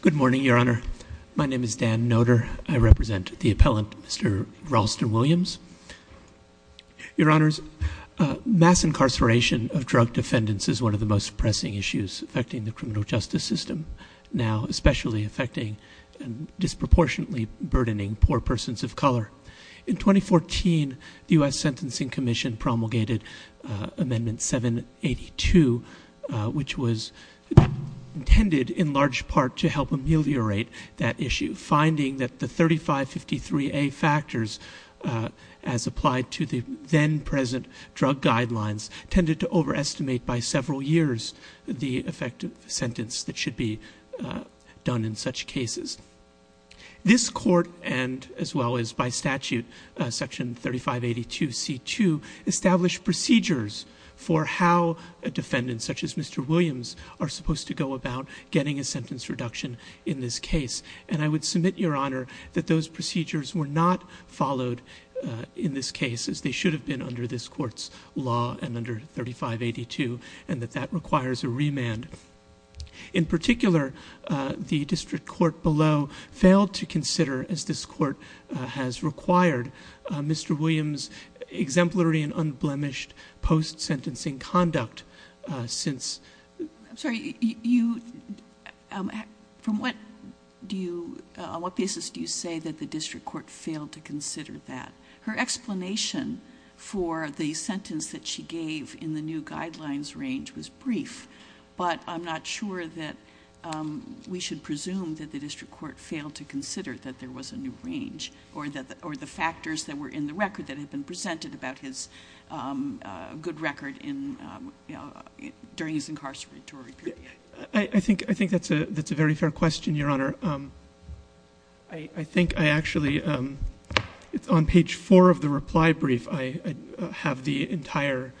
Good morning, Your Honor. My name is Dan Noder. I represent the appellant, Mr. Ralston Williams. Your Honors, mass incarceration of drug defendants is one of the most pressing issues affecting the criminal justice system now, especially affecting and disproportionately burdening poor persons of color. In 2014, the US Sentencing Commission promulgated Amendment 782, which was intended in large part to help ameliorate that issue, finding that the 3553A factors, as applied to the then-present drug guidelines, tended to overestimate by several years the effective sentence that should be done in such cases. This Court, and as well as by statute, Section 3582C2, established procedures for how a defendant, such as Mr. Williams, are supposed to go about getting a sentence reduction in this case. And I would submit, Your Honor, that those procedures were not followed in this case, as they should have been under this Court's law and under 3582, and that that requires a remand. In particular, the district court below failed to consider, as this Court has required, Mr. Williams' exemplary and unblemished post-sentencing conduct since. I'm sorry, on what basis do you say that the district court failed to consider that? Her explanation for the sentence that she gave in the new guidelines range was brief, but I'm not sure that we should presume that the district court failed to consider that there was a new range, or the factors that were in the record that incarcerated to a repeat. I think that's a very fair question, Your Honor. I think I actually, on page four of the reply brief, I have the entire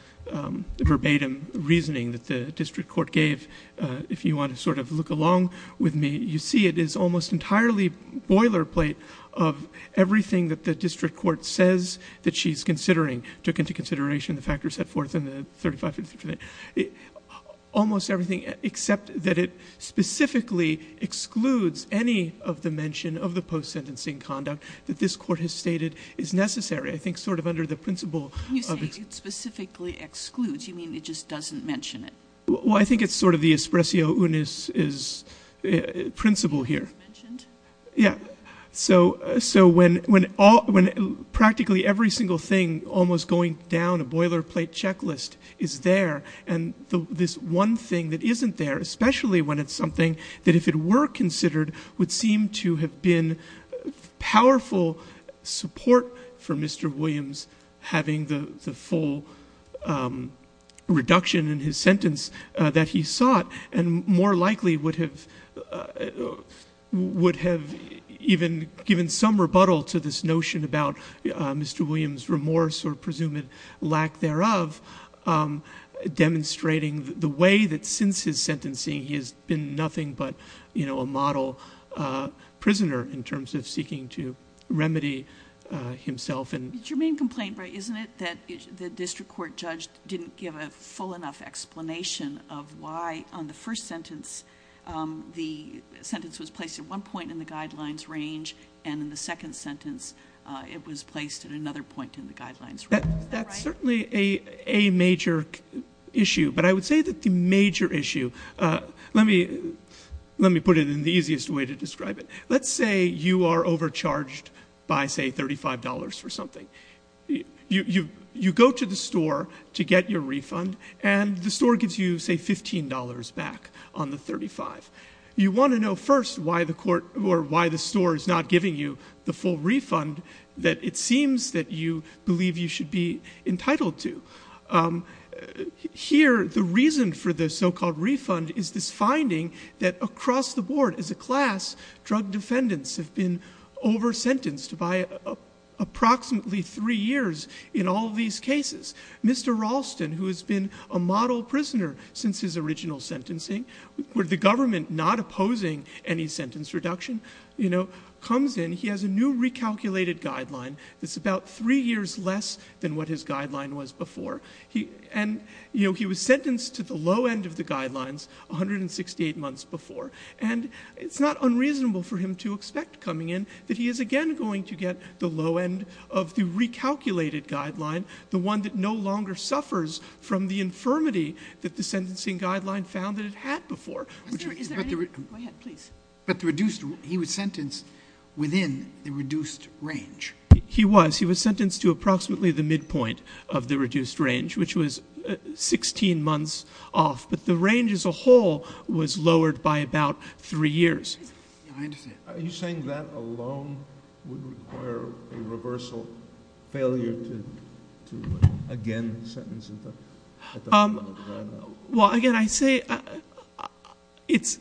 verbatim reasoning that the district court gave. If you want to sort of look along with me, you see it is almost entirely boilerplate of everything that the district court says that she's considering, took into consideration the factors set forth in the 3582. Almost everything, except that it specifically excludes any of the mention of the post-sentencing conduct that this court has stated is necessary. I think sort of under the principle of it. You say it specifically excludes. You mean it just doesn't mention it? Well, I think it's sort of the espresso unis principle here. Mentioned? Yeah. So when practically every single thing, almost going down a boilerplate checklist is there, and this one thing that isn't there, especially when it's something that if it were considered would seem to have been powerful support for Mr. Williams having the full reduction in his sentence that he sought, and more likely would have even given some rebuttal to this notion about Mr. Williams' remorse or presumed lack thereof, demonstrating the way that since his sentencing he has been nothing but a model prisoner in terms of seeking to remedy himself. It's your main complaint, right? Isn't it that the district court judge didn't give a full enough explanation of why on the first sentence the sentence was placed at one point in the guidelines range and in the second sentence it was placed at another point in the guidelines range? That's certainly a major issue. But I would say that the major issue, let me put it in the easiest way to describe it. Let's say you are overcharged by, say, $35 for something. You go to the store to get your refund and the store gives you, say, $15 back on the $35. You want to know first why the store is not giving you the full refund that it seems that you believe you should be entitled to. Here, the reason for the so-called refund is this finding that across the board as a class, drug defendants have been over-sentenced by approximately three years in all these cases. Mr. Ralston, who has been a model prisoner since his original sentencing, with the government not opposing any sentence reduction, you know, comes in, he has a new recalculated guideline that's about three years less than what his guideline was before. And, you know, he was sentenced to the low end of the guidelines 168 months before. And it's not unreasonable for him to expect coming in that he is again going to get the low end of the recalculated guideline, the one that no longer suffers from the infirmity that the sentencing guideline found that it had before. Is there any, go ahead, please. But the reduced, he was sentenced within the reduced range. He was, he was sentenced to approximately the midpoint of the reduced range, which was 16 months off. But the range as a whole was lowered by about three years. Yeah, I understand. Are you saying that alone would require a reversal failure to again sentence at the low end of that? Well, again, I say it's,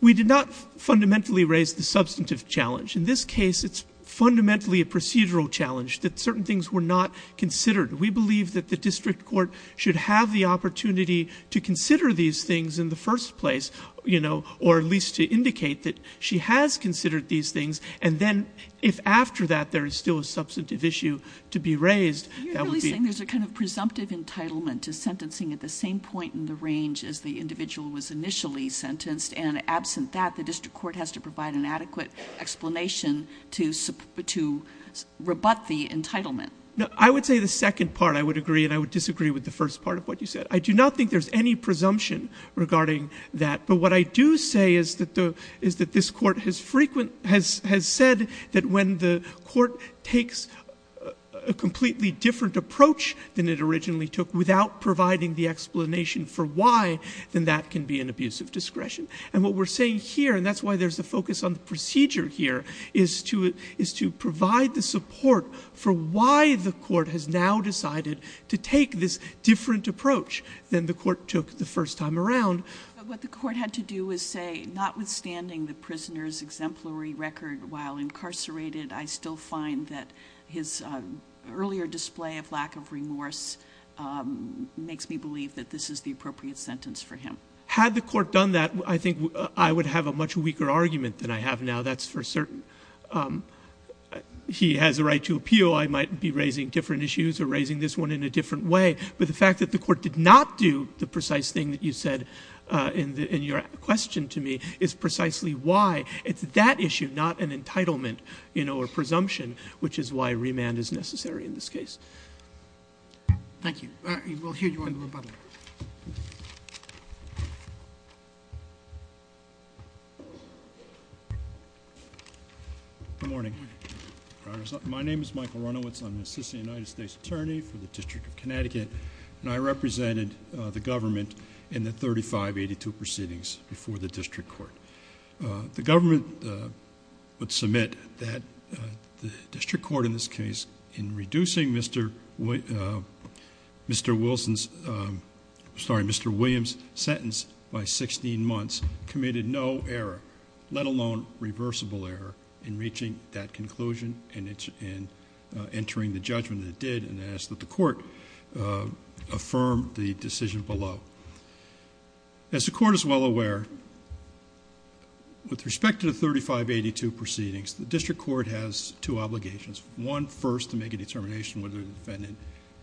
we did not fundamentally raise the substantive challenge. In this case, it's fundamentally a procedural challenge that certain things were not considered. We believe that the district court should have the opportunity to consider these things in the first place, you know, or at least to indicate that she has considered these things. And then if after that, there is still a substantive issue to be raised, that would be- You're really saying there's a kind of presumptive entitlement to sentencing at the same point in the range as the individual was initially sentenced. And absent that, the district court has to provide an adequate explanation to rebut the entitlement. No, I would say the second part, I would agree. And I would disagree with the first part of what you said. I do not think there's any presumption regarding that. But what I do say is that the, is that this court has frequent, has said that when the court takes a completely different approach than it originally took without providing the explanation for why, then that can be an abuse of discretion. And what we're saying here, and that's why there's a focus on the procedure here, is to provide the support for why the court has now decided to take this different approach than the court took the first time around. But what the court had to do was say, notwithstanding the prisoner's exemplary record while incarcerated, I still find that his earlier display of lack of remorse makes me believe that this is the appropriate sentence for him. Had the court done that, I think I would have a much weaker argument than I have now, that's for certain. He has a right to appeal. I might be raising different issues or raising this one in a different way. But the fact that the court did not do the precise thing that you said in your question to me is precisely why. It's that issue, not an entitlement or presumption, which is why remand is necessary in this case. Thank you. We'll hear you in the rebuttal. Good morning, Your Honor. My name is Michael Runowitz. I'm an assistant United States attorney for the District of Connecticut. And I represented the government in the 3582 proceedings before the district court. The government would submit that the district court in this case, in reducing Mr. William's sentence by 16 months, committed no error, let alone reversible error, in reaching that conclusion and entering the judgment it did and asked that the court affirm the decision below. As the court is well aware, with respect to the 3582 proceedings, the district court has two obligations. One, first, to make a determination whether the defendant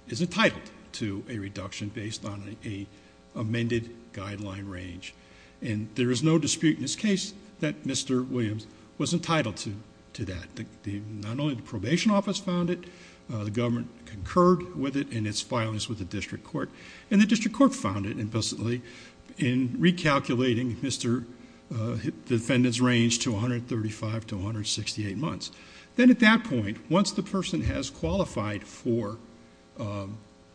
is entitled to a reduction based on an amended guideline range. And there is no dispute in this case that Mr. Williams was entitled to that. Not only the probation office found it, the government concurred with it in its filings with the district court. And the district court found it implicitly in recalculating the defendant's range to 135 to 168 months. Then at that point, once the person has qualified for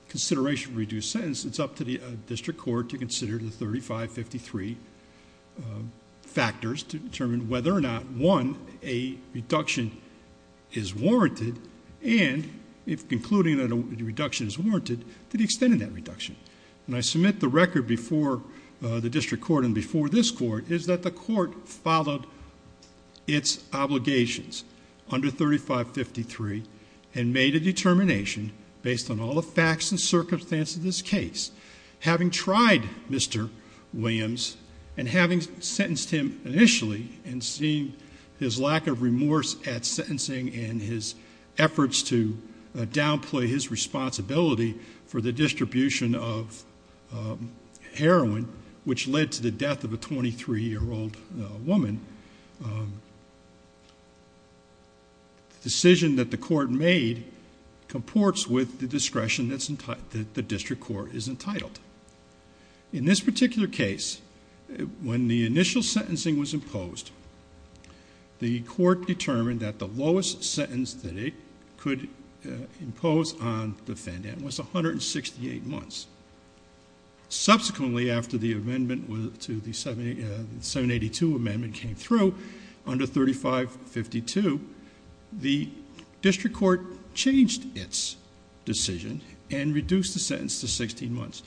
consideration of reduced sentence, it's up to the district court to consider the 3553 factors to determine whether or not, one, a reduction is warranted and, if concluding that a reduction is warranted, to the extent of that reduction. And I submit the record before the district court and before this court is that the court followed its obligations under 3553 and made a determination based on all the facts and circumstances of this case, having tried Mr. Williams and having sentenced him initially and seeing his lack of remorse at sentencing and his efforts to downplay his responsibility for the distribution of heroin, which led to the death of a 23-year-old woman, the decision that the court made comports with the discretion that the district court is entitled. In this particular case, when the initial sentencing was imposed, the court determined that the lowest sentence that it could impose on the defendant was 168 months. Subsequently, after the amendment to the 782 Amendment came through under 3552, the district court changed its decision and reduced the sentence to 16 months.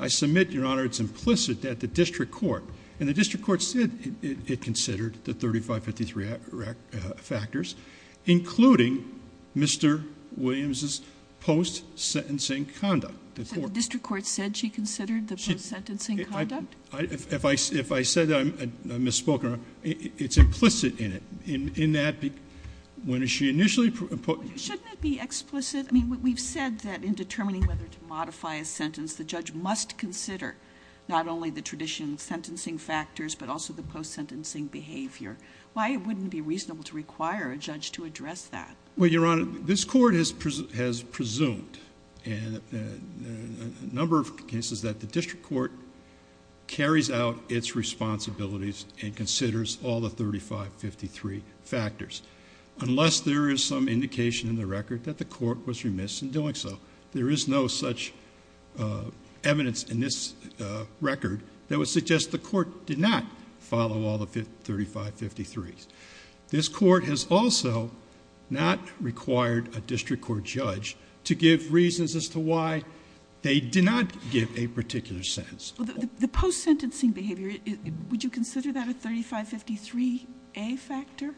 I submit, Your Honor, it's implicit that the district court and the district court said it considered the 3553 factors, including Mr. Williams's post-sentencing conduct. The district court said she considered the post-sentencing conduct? If I said I misspoke, it's implicit in it, in that when she initially put- Shouldn't it be explicit? I mean, we've said that in determining whether to modify a sentence, the judge must consider not only the tradition sentencing factors, but also the post-sentencing behavior. Why wouldn't it be reasonable to require a judge to address that? Well, Your Honor, this court has presumed in a number of cases that the district court carries out its responsibilities and considers all the 3553 factors, unless there is some indication in the record that the court was remiss in doing so. There is no such evidence in this record that would suggest the court did not follow all the 3553s. This court has also not required a district court judge to give reasons as to why they did not give a particular sentence. The post-sentencing behavior, would you consider that a 3553A factor?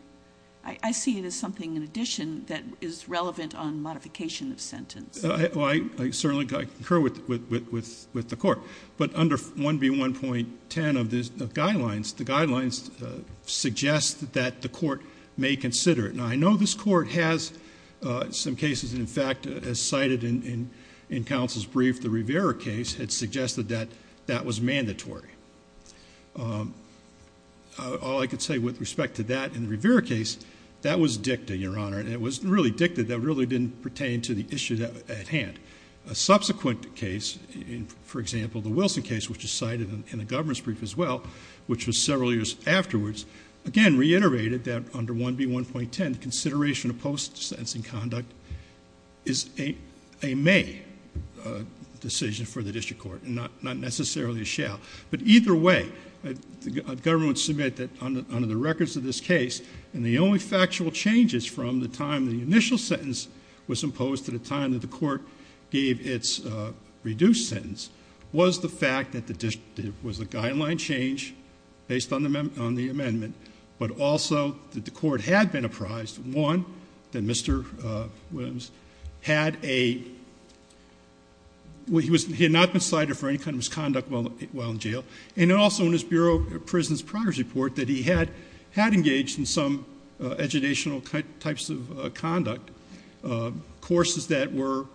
I see it as something in addition that is relevant on modification of sentence. Well, I certainly concur with the court, but under 1B1.10 of the guidelines, the guidelines suggest that the court may consider it. Now, I know this court has some cases, and in fact, as cited in counsel's brief, the Rivera case had suggested that that was mandatory. All I could say with respect to that in the Rivera case, that was dicta, Your Honor, and it was really dicta that really didn't pertain to the issue at hand. A subsequent case, for example, the Wilson case, which is cited in the government's brief as well, which was several years afterwards, again, reiterated that under 1B1.10, consideration of post-sentencing conduct is a may decision for the district court, not necessarily a shall. But either way, the government would submit that under the records of this case, and the only factual changes from the time the initial sentence was imposed to the time that the court gave its reduced sentence was the fact that there was a guideline change based on the amendment, but also that the court had been apprised, one, that Mr. Williams had a, he had not been cited for any kind of misconduct while in jail, and also in his Bureau of Prison's progress report that he had engaged in some educational types of conduct, courses that were,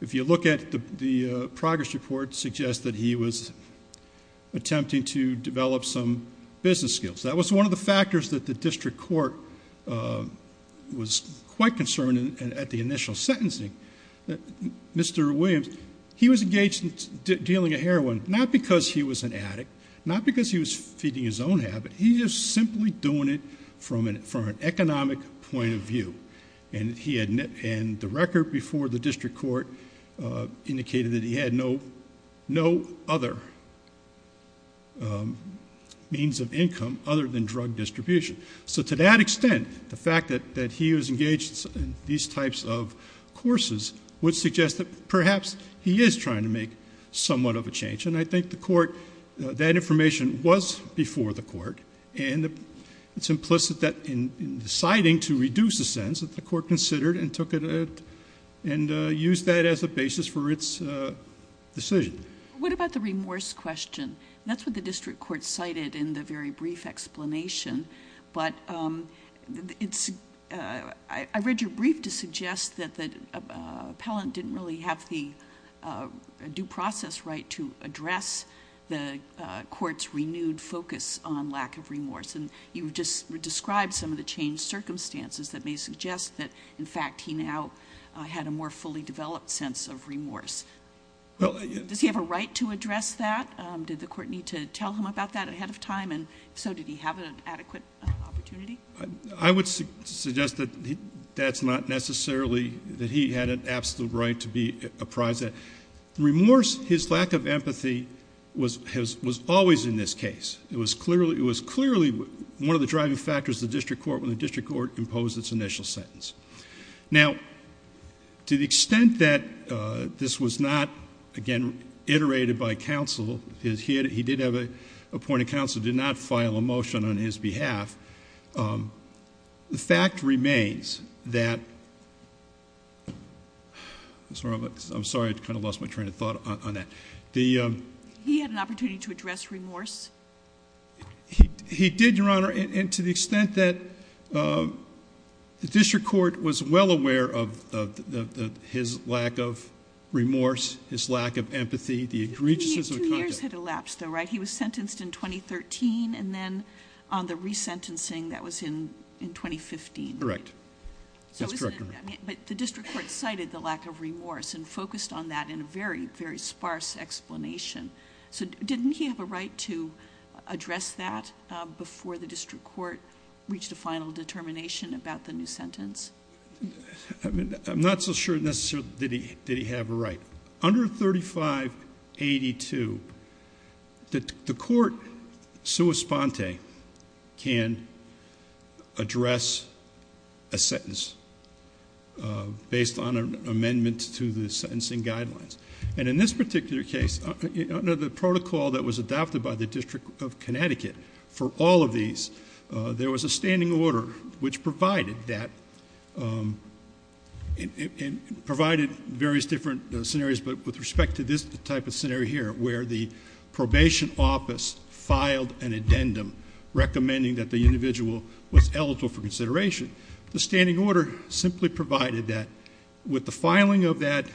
if you look at the progress report, suggests that he was attempting to develop some business skills. That was one of the factors that the district court was quite concerned at the initial sentencing, Mr. Williams, he was engaged in dealing with heroin, not because he was an addict, not because he was feeding his own habit, he was simply doing it from an economic point of view, and he had, and the record before the district court indicated that he had no other means of income other than drug distribution. So to that extent, the fact that he was engaged in these types of courses would suggest that perhaps he is trying to make somewhat of a change, and I think the court, that information was before the court, and it's implicit that in deciding to reduce the sentence that the court considered and took it, and used that as a basis for its decision. What about the remorse question? That's what the district court cited in the very brief explanation, but I read your brief to suggest that the appellant didn't really have the due process right to address the court's renewed focus on lack of remorse, and you just described some of the changed circumstances that may suggest that, in fact, he now had a more fully developed sense of remorse. Does he have a right to address that? Did the court need to tell him about that ahead of time, and if so, did he have an adequate opportunity? I would suggest that that's not necessarily that he had an absolute right to be apprised of. Remorse, his lack of empathy, was always in this case. It was clearly one of the driving factors of the district court when the district court imposed its initial sentence. Now, to the extent that this was not, again, iterated by counsel, he did have a point of counsel, did not file a motion on his behalf, the fact remains that, I'm sorry, I kind of lost my train of thought on that. He had an opportunity to address remorse? He did, Your Honor, and to the extent that the district court was well aware of his lack of remorse, his lack of empathy, the egregiousness of the conduct. His two years had elapsed, though, right? He was sentenced in 2013, and then on the resentencing, that was in 2015. Correct, that's correct. But the district court cited the lack of remorse and focused on that in a very, very sparse explanation. So didn't he have a right to address that before the district court reached a final determination about the new sentence? I'm not so sure, necessarily, did he have a right. Under 3582, the court, sua sponte, can address a sentence. Based on an amendment to the sentencing guidelines. And in this particular case, under the protocol that was adopted by the District of Connecticut, for all of these, there was a standing order which provided various different scenarios, but with respect to this type of scenario here, where the probation office filed an addendum recommending that the individual was eligible for consideration. The standing order simply provided that with the filing of that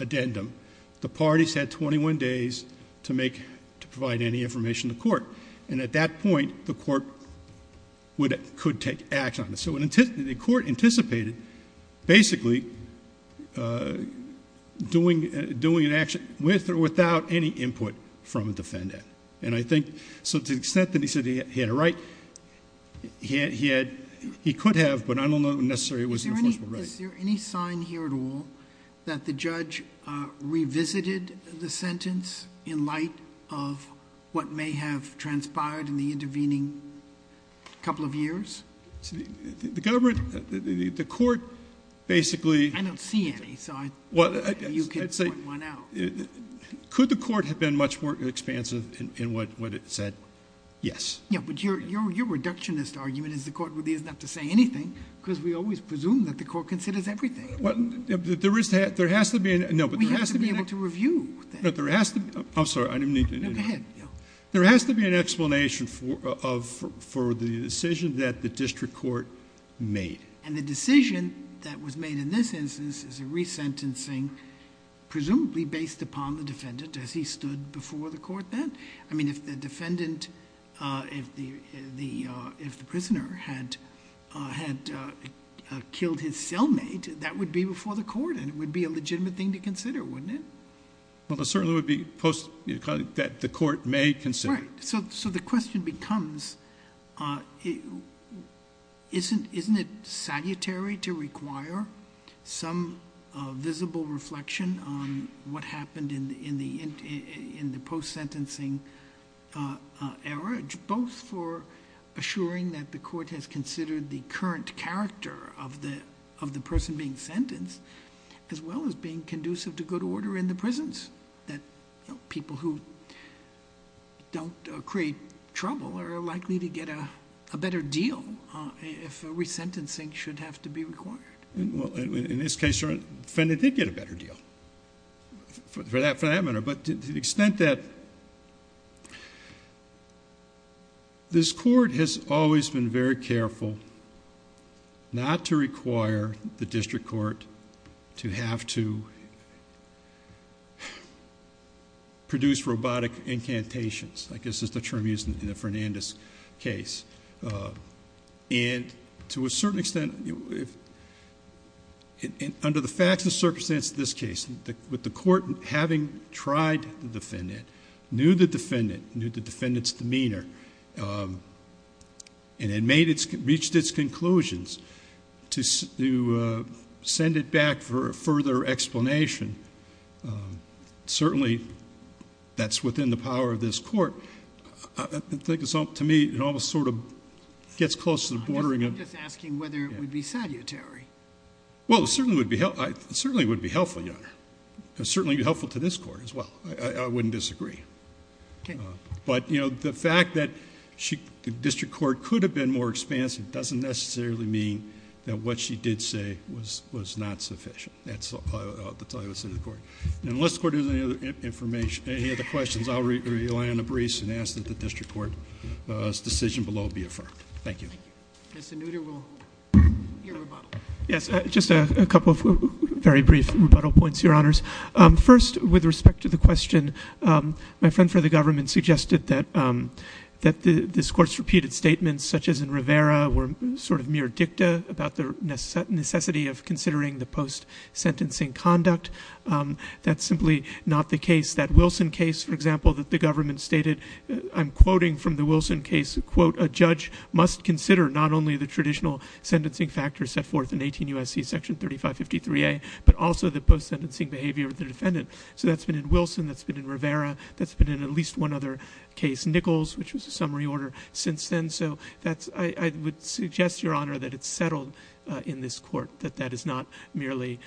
addendum, the parties had 21 days to provide any information to court. And at that point, the court could take action on it. So the court anticipated, basically, doing an action with or without any input from a defendant. And I think, so to the extent that he said he had a right, he could have, but I don't know necessarily it was an enforceable right. Is there any sign here at all that the judge revisited the sentence in light of what may have transpired in the intervening couple of years? The government, the court, basically. I don't see any, so you can point one out. Could the court have been much more expansive in what it said? Yes. Yeah, but your reductionist argument is the court really is not to say anything, because we always presume that the court considers everything. Well, there has to be an, no, but there has to be an... We have to be able to review that. No, there has to be, I'm sorry, I didn't mean to... No, go ahead, yeah. There has to be an explanation for the decision that the district court made. And the decision that was made in this instance is a resentencing, presumably based upon the defendant, as he stood before the court then. I mean, if the defendant, if the prisoner had killed his cellmate, that would be before the court, and it would be a legitimate thing to consider, wouldn't it? Well, it certainly would be post, that the court may consider. Right, so the question becomes, isn't it salutary to require some visible reflection on what happened in the post-sentencing era, both for assuring that the court has considered the current character of the person being sentenced, as well as being conducive to good order in the prisons, that people who don't create trouble are likely to get a better deal if a resentencing should have to be required? Well, in this case, the defendant did get a better deal for that matter, but to the extent that this court has always been very careful not to require the district court to have to produce robotic incantations, I guess is the term used in the Fernandez case. And to a certain extent, and under the facts and circumstances of this case, with the court having tried the defendant, knew the defendant, knew the defendant's demeanor, and had reached its conclusions, to send it back for a further explanation, certainly that's within the power of this court. To me, it almost sort of gets close to the bordering of- Well, it certainly would be helpful, Your Honor. It would certainly be helpful to this court, as well. I wouldn't disagree. But the fact that the district court could have been more expansive doesn't necessarily mean that what she did say was not sufficient. That's all I would say to the court. And unless the court has any other questions, I'll rely on the briefs and ask that the district court's decision below be affirmed. Thank you. Mr. Nutter, we'll hear a rebuttal. Yes, just a couple of very brief rebuttal points, Your Honors. First, with respect to the question, my friend for the government suggested that this court's repeated statements, such as in Rivera, were sort of mere dicta about the necessity of considering the post-sentencing conduct. That's simply not the case. That Wilson case, for example, that the government stated, I'm quoting from the Wilson case, quote, a judge must consider not only the traditional sentencing factors set forth in 18 U.S.C. section 3553A, but also the post-sentencing behavior of the defendant. So that's been in Wilson, that's been in Rivera, that's been in at least one other case, Nichols, which was a summary order since then. So I would suggest, Your Honor, that it's settled in this court that that is not merely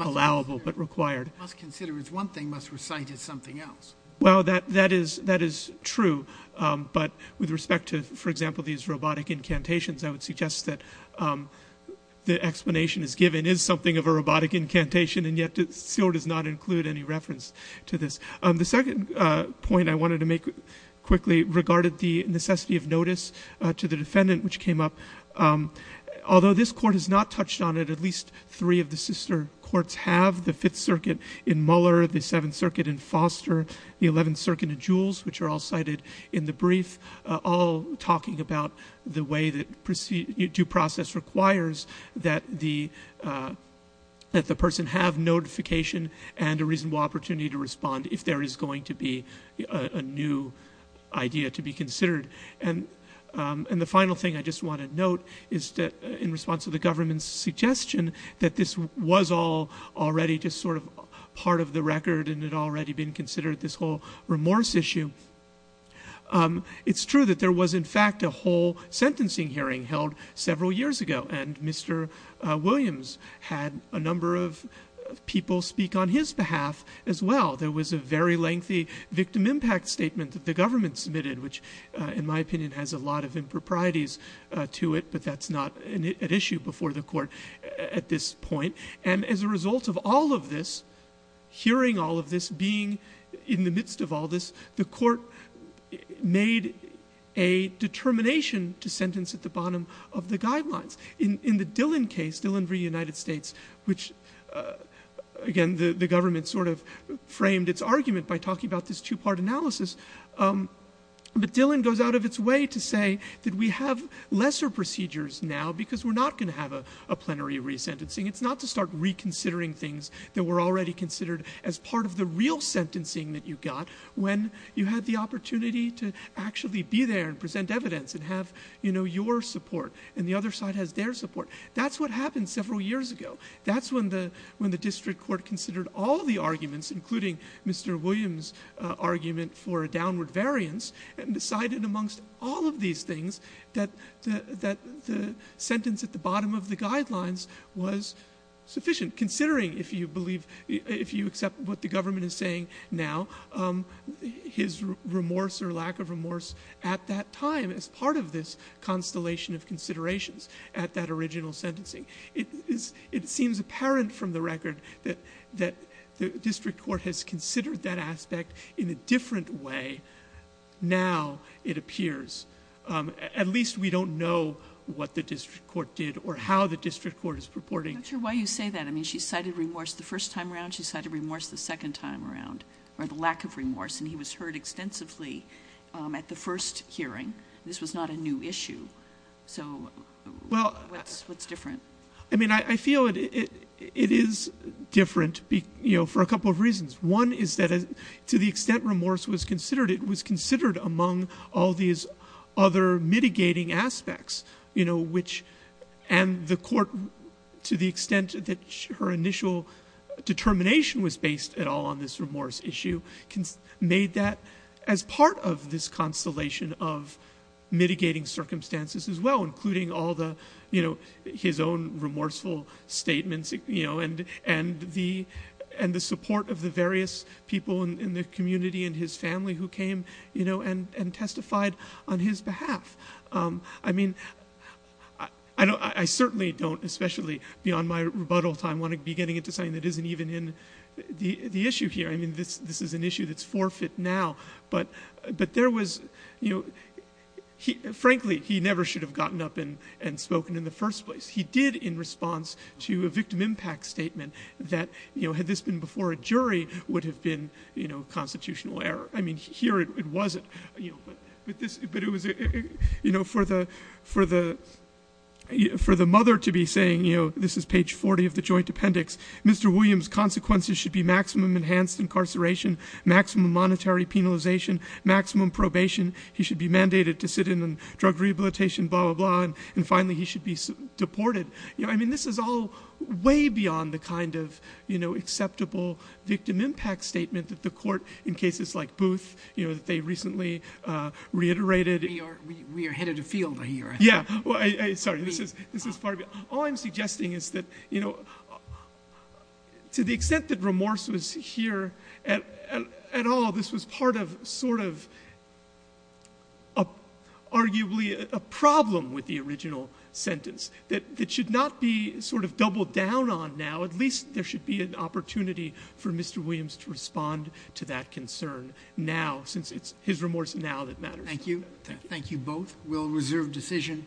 allowable, but required. Must consider is one thing, must recite is something else. Well, that is true. But with respect to, for example, these robotic incantations, I would suggest that the explanation is given is something of a robotic incantation, and yet it still does not include any reference to this. The second point I wanted to make quickly regarded the necessity of notice to the defendant, which came up. Although this court has not touched on it, at least three of the sister courts have. The Fifth Circuit in Muller, the Seventh Circuit in Foster, the Eleventh Circuit in Jules, which are all cited in the brief, all talking about the way that due process requires that the person have notification and a reasonable opportunity to respond if there is going to be a new idea to be considered. And the final thing I just want to note is that in response to the government's suggestion that this was all already just sort of part of the record and it had already been considered this whole remorse issue, it's true that there was in fact a whole sentencing hearing held several years ago, and Mr. Williams had a number of people speak on his behalf as well. There was a very lengthy victim impact statement that the government submitted, which in my opinion has a lot of improprieties to it, but that's not an issue before the court at this point. And as a result of all of this, hearing all of this, being in the midst of all this, the court made a determination to sentence at the bottom of the guidelines. In the Dillon case, Dillon v. United States, which again, the government sort of framed its argument by talking about this two-part analysis, but Dillon goes out of its way to say that we have lesser procedures now because we're not gonna have a plenary re-sentencing. It's not to start reconsidering things that were already considered as part of the real sentencing that you got when you had the opportunity to actually be there and present evidence and have your support, and the other side has their support. That's what happened several years ago. That's when the district court considered all the arguments, including Mr. Williams' argument for a downward variance, and decided amongst all of these things that the sentence at the bottom of the guidelines was sufficient, considering, if you believe, if you accept what the government is saying now, his remorse or lack of remorse at that time as part of this constellation of considerations at that original sentencing. It seems apparent from the record that the district court has considered that aspect in a different way now, it appears. At least we don't know what the district court did or how the district court is purporting. I'm not sure why you say that. I mean, she cited remorse the first time around, she cited remorse the second time around, or the lack of remorse, and he was heard extensively at the first hearing. This was not a new issue, so what's different? I mean, I feel it is different for a couple of reasons. One is that to the extent remorse was considered, it was considered among all these other mitigating aspects, which, and the court, to the extent that her initial determination was based at all on this remorse issue, made that as part of this constellation of mitigating circumstances as well, including all the, his own remorseful statements, and the support of the various people in the community and his family who came and testified on his behalf. I mean, I certainly don't, especially beyond my rebuttal time, want to be getting into something that isn't even in the issue here. I mean, this is an issue that's forfeit now, but there was, frankly, he never should have gotten up and spoken in the first place. He did in response to a victim impact statement that, had this been before a jury, would have been constitutional error. I mean, here it wasn't, but it was for the mother to be saying, this is page 40 of the joint appendix, Mr. Williams' consequences should be maximum enhanced incarceration, maximum monetary penalization, maximum probation. He should be mandated to sit in on drug rehabilitation, blah, blah, blah, and finally he should be deported. You know, I mean, this is all way beyond the kind of acceptable victim impact statement that the court, in cases like Booth, you know, that they recently reiterated. We are headed afield here. Yeah, sorry, this is part of it. All I'm suggesting is that, you know, to the extent that remorse was here at all, this was part of sort of arguably a problem with the original sentence that should not be sort of doubled down on now. At least there should be an opportunity for Mr. Williams to respond to that concern now, since it's his remorse now that matters. Thank you, thank you both. We'll reserve decision.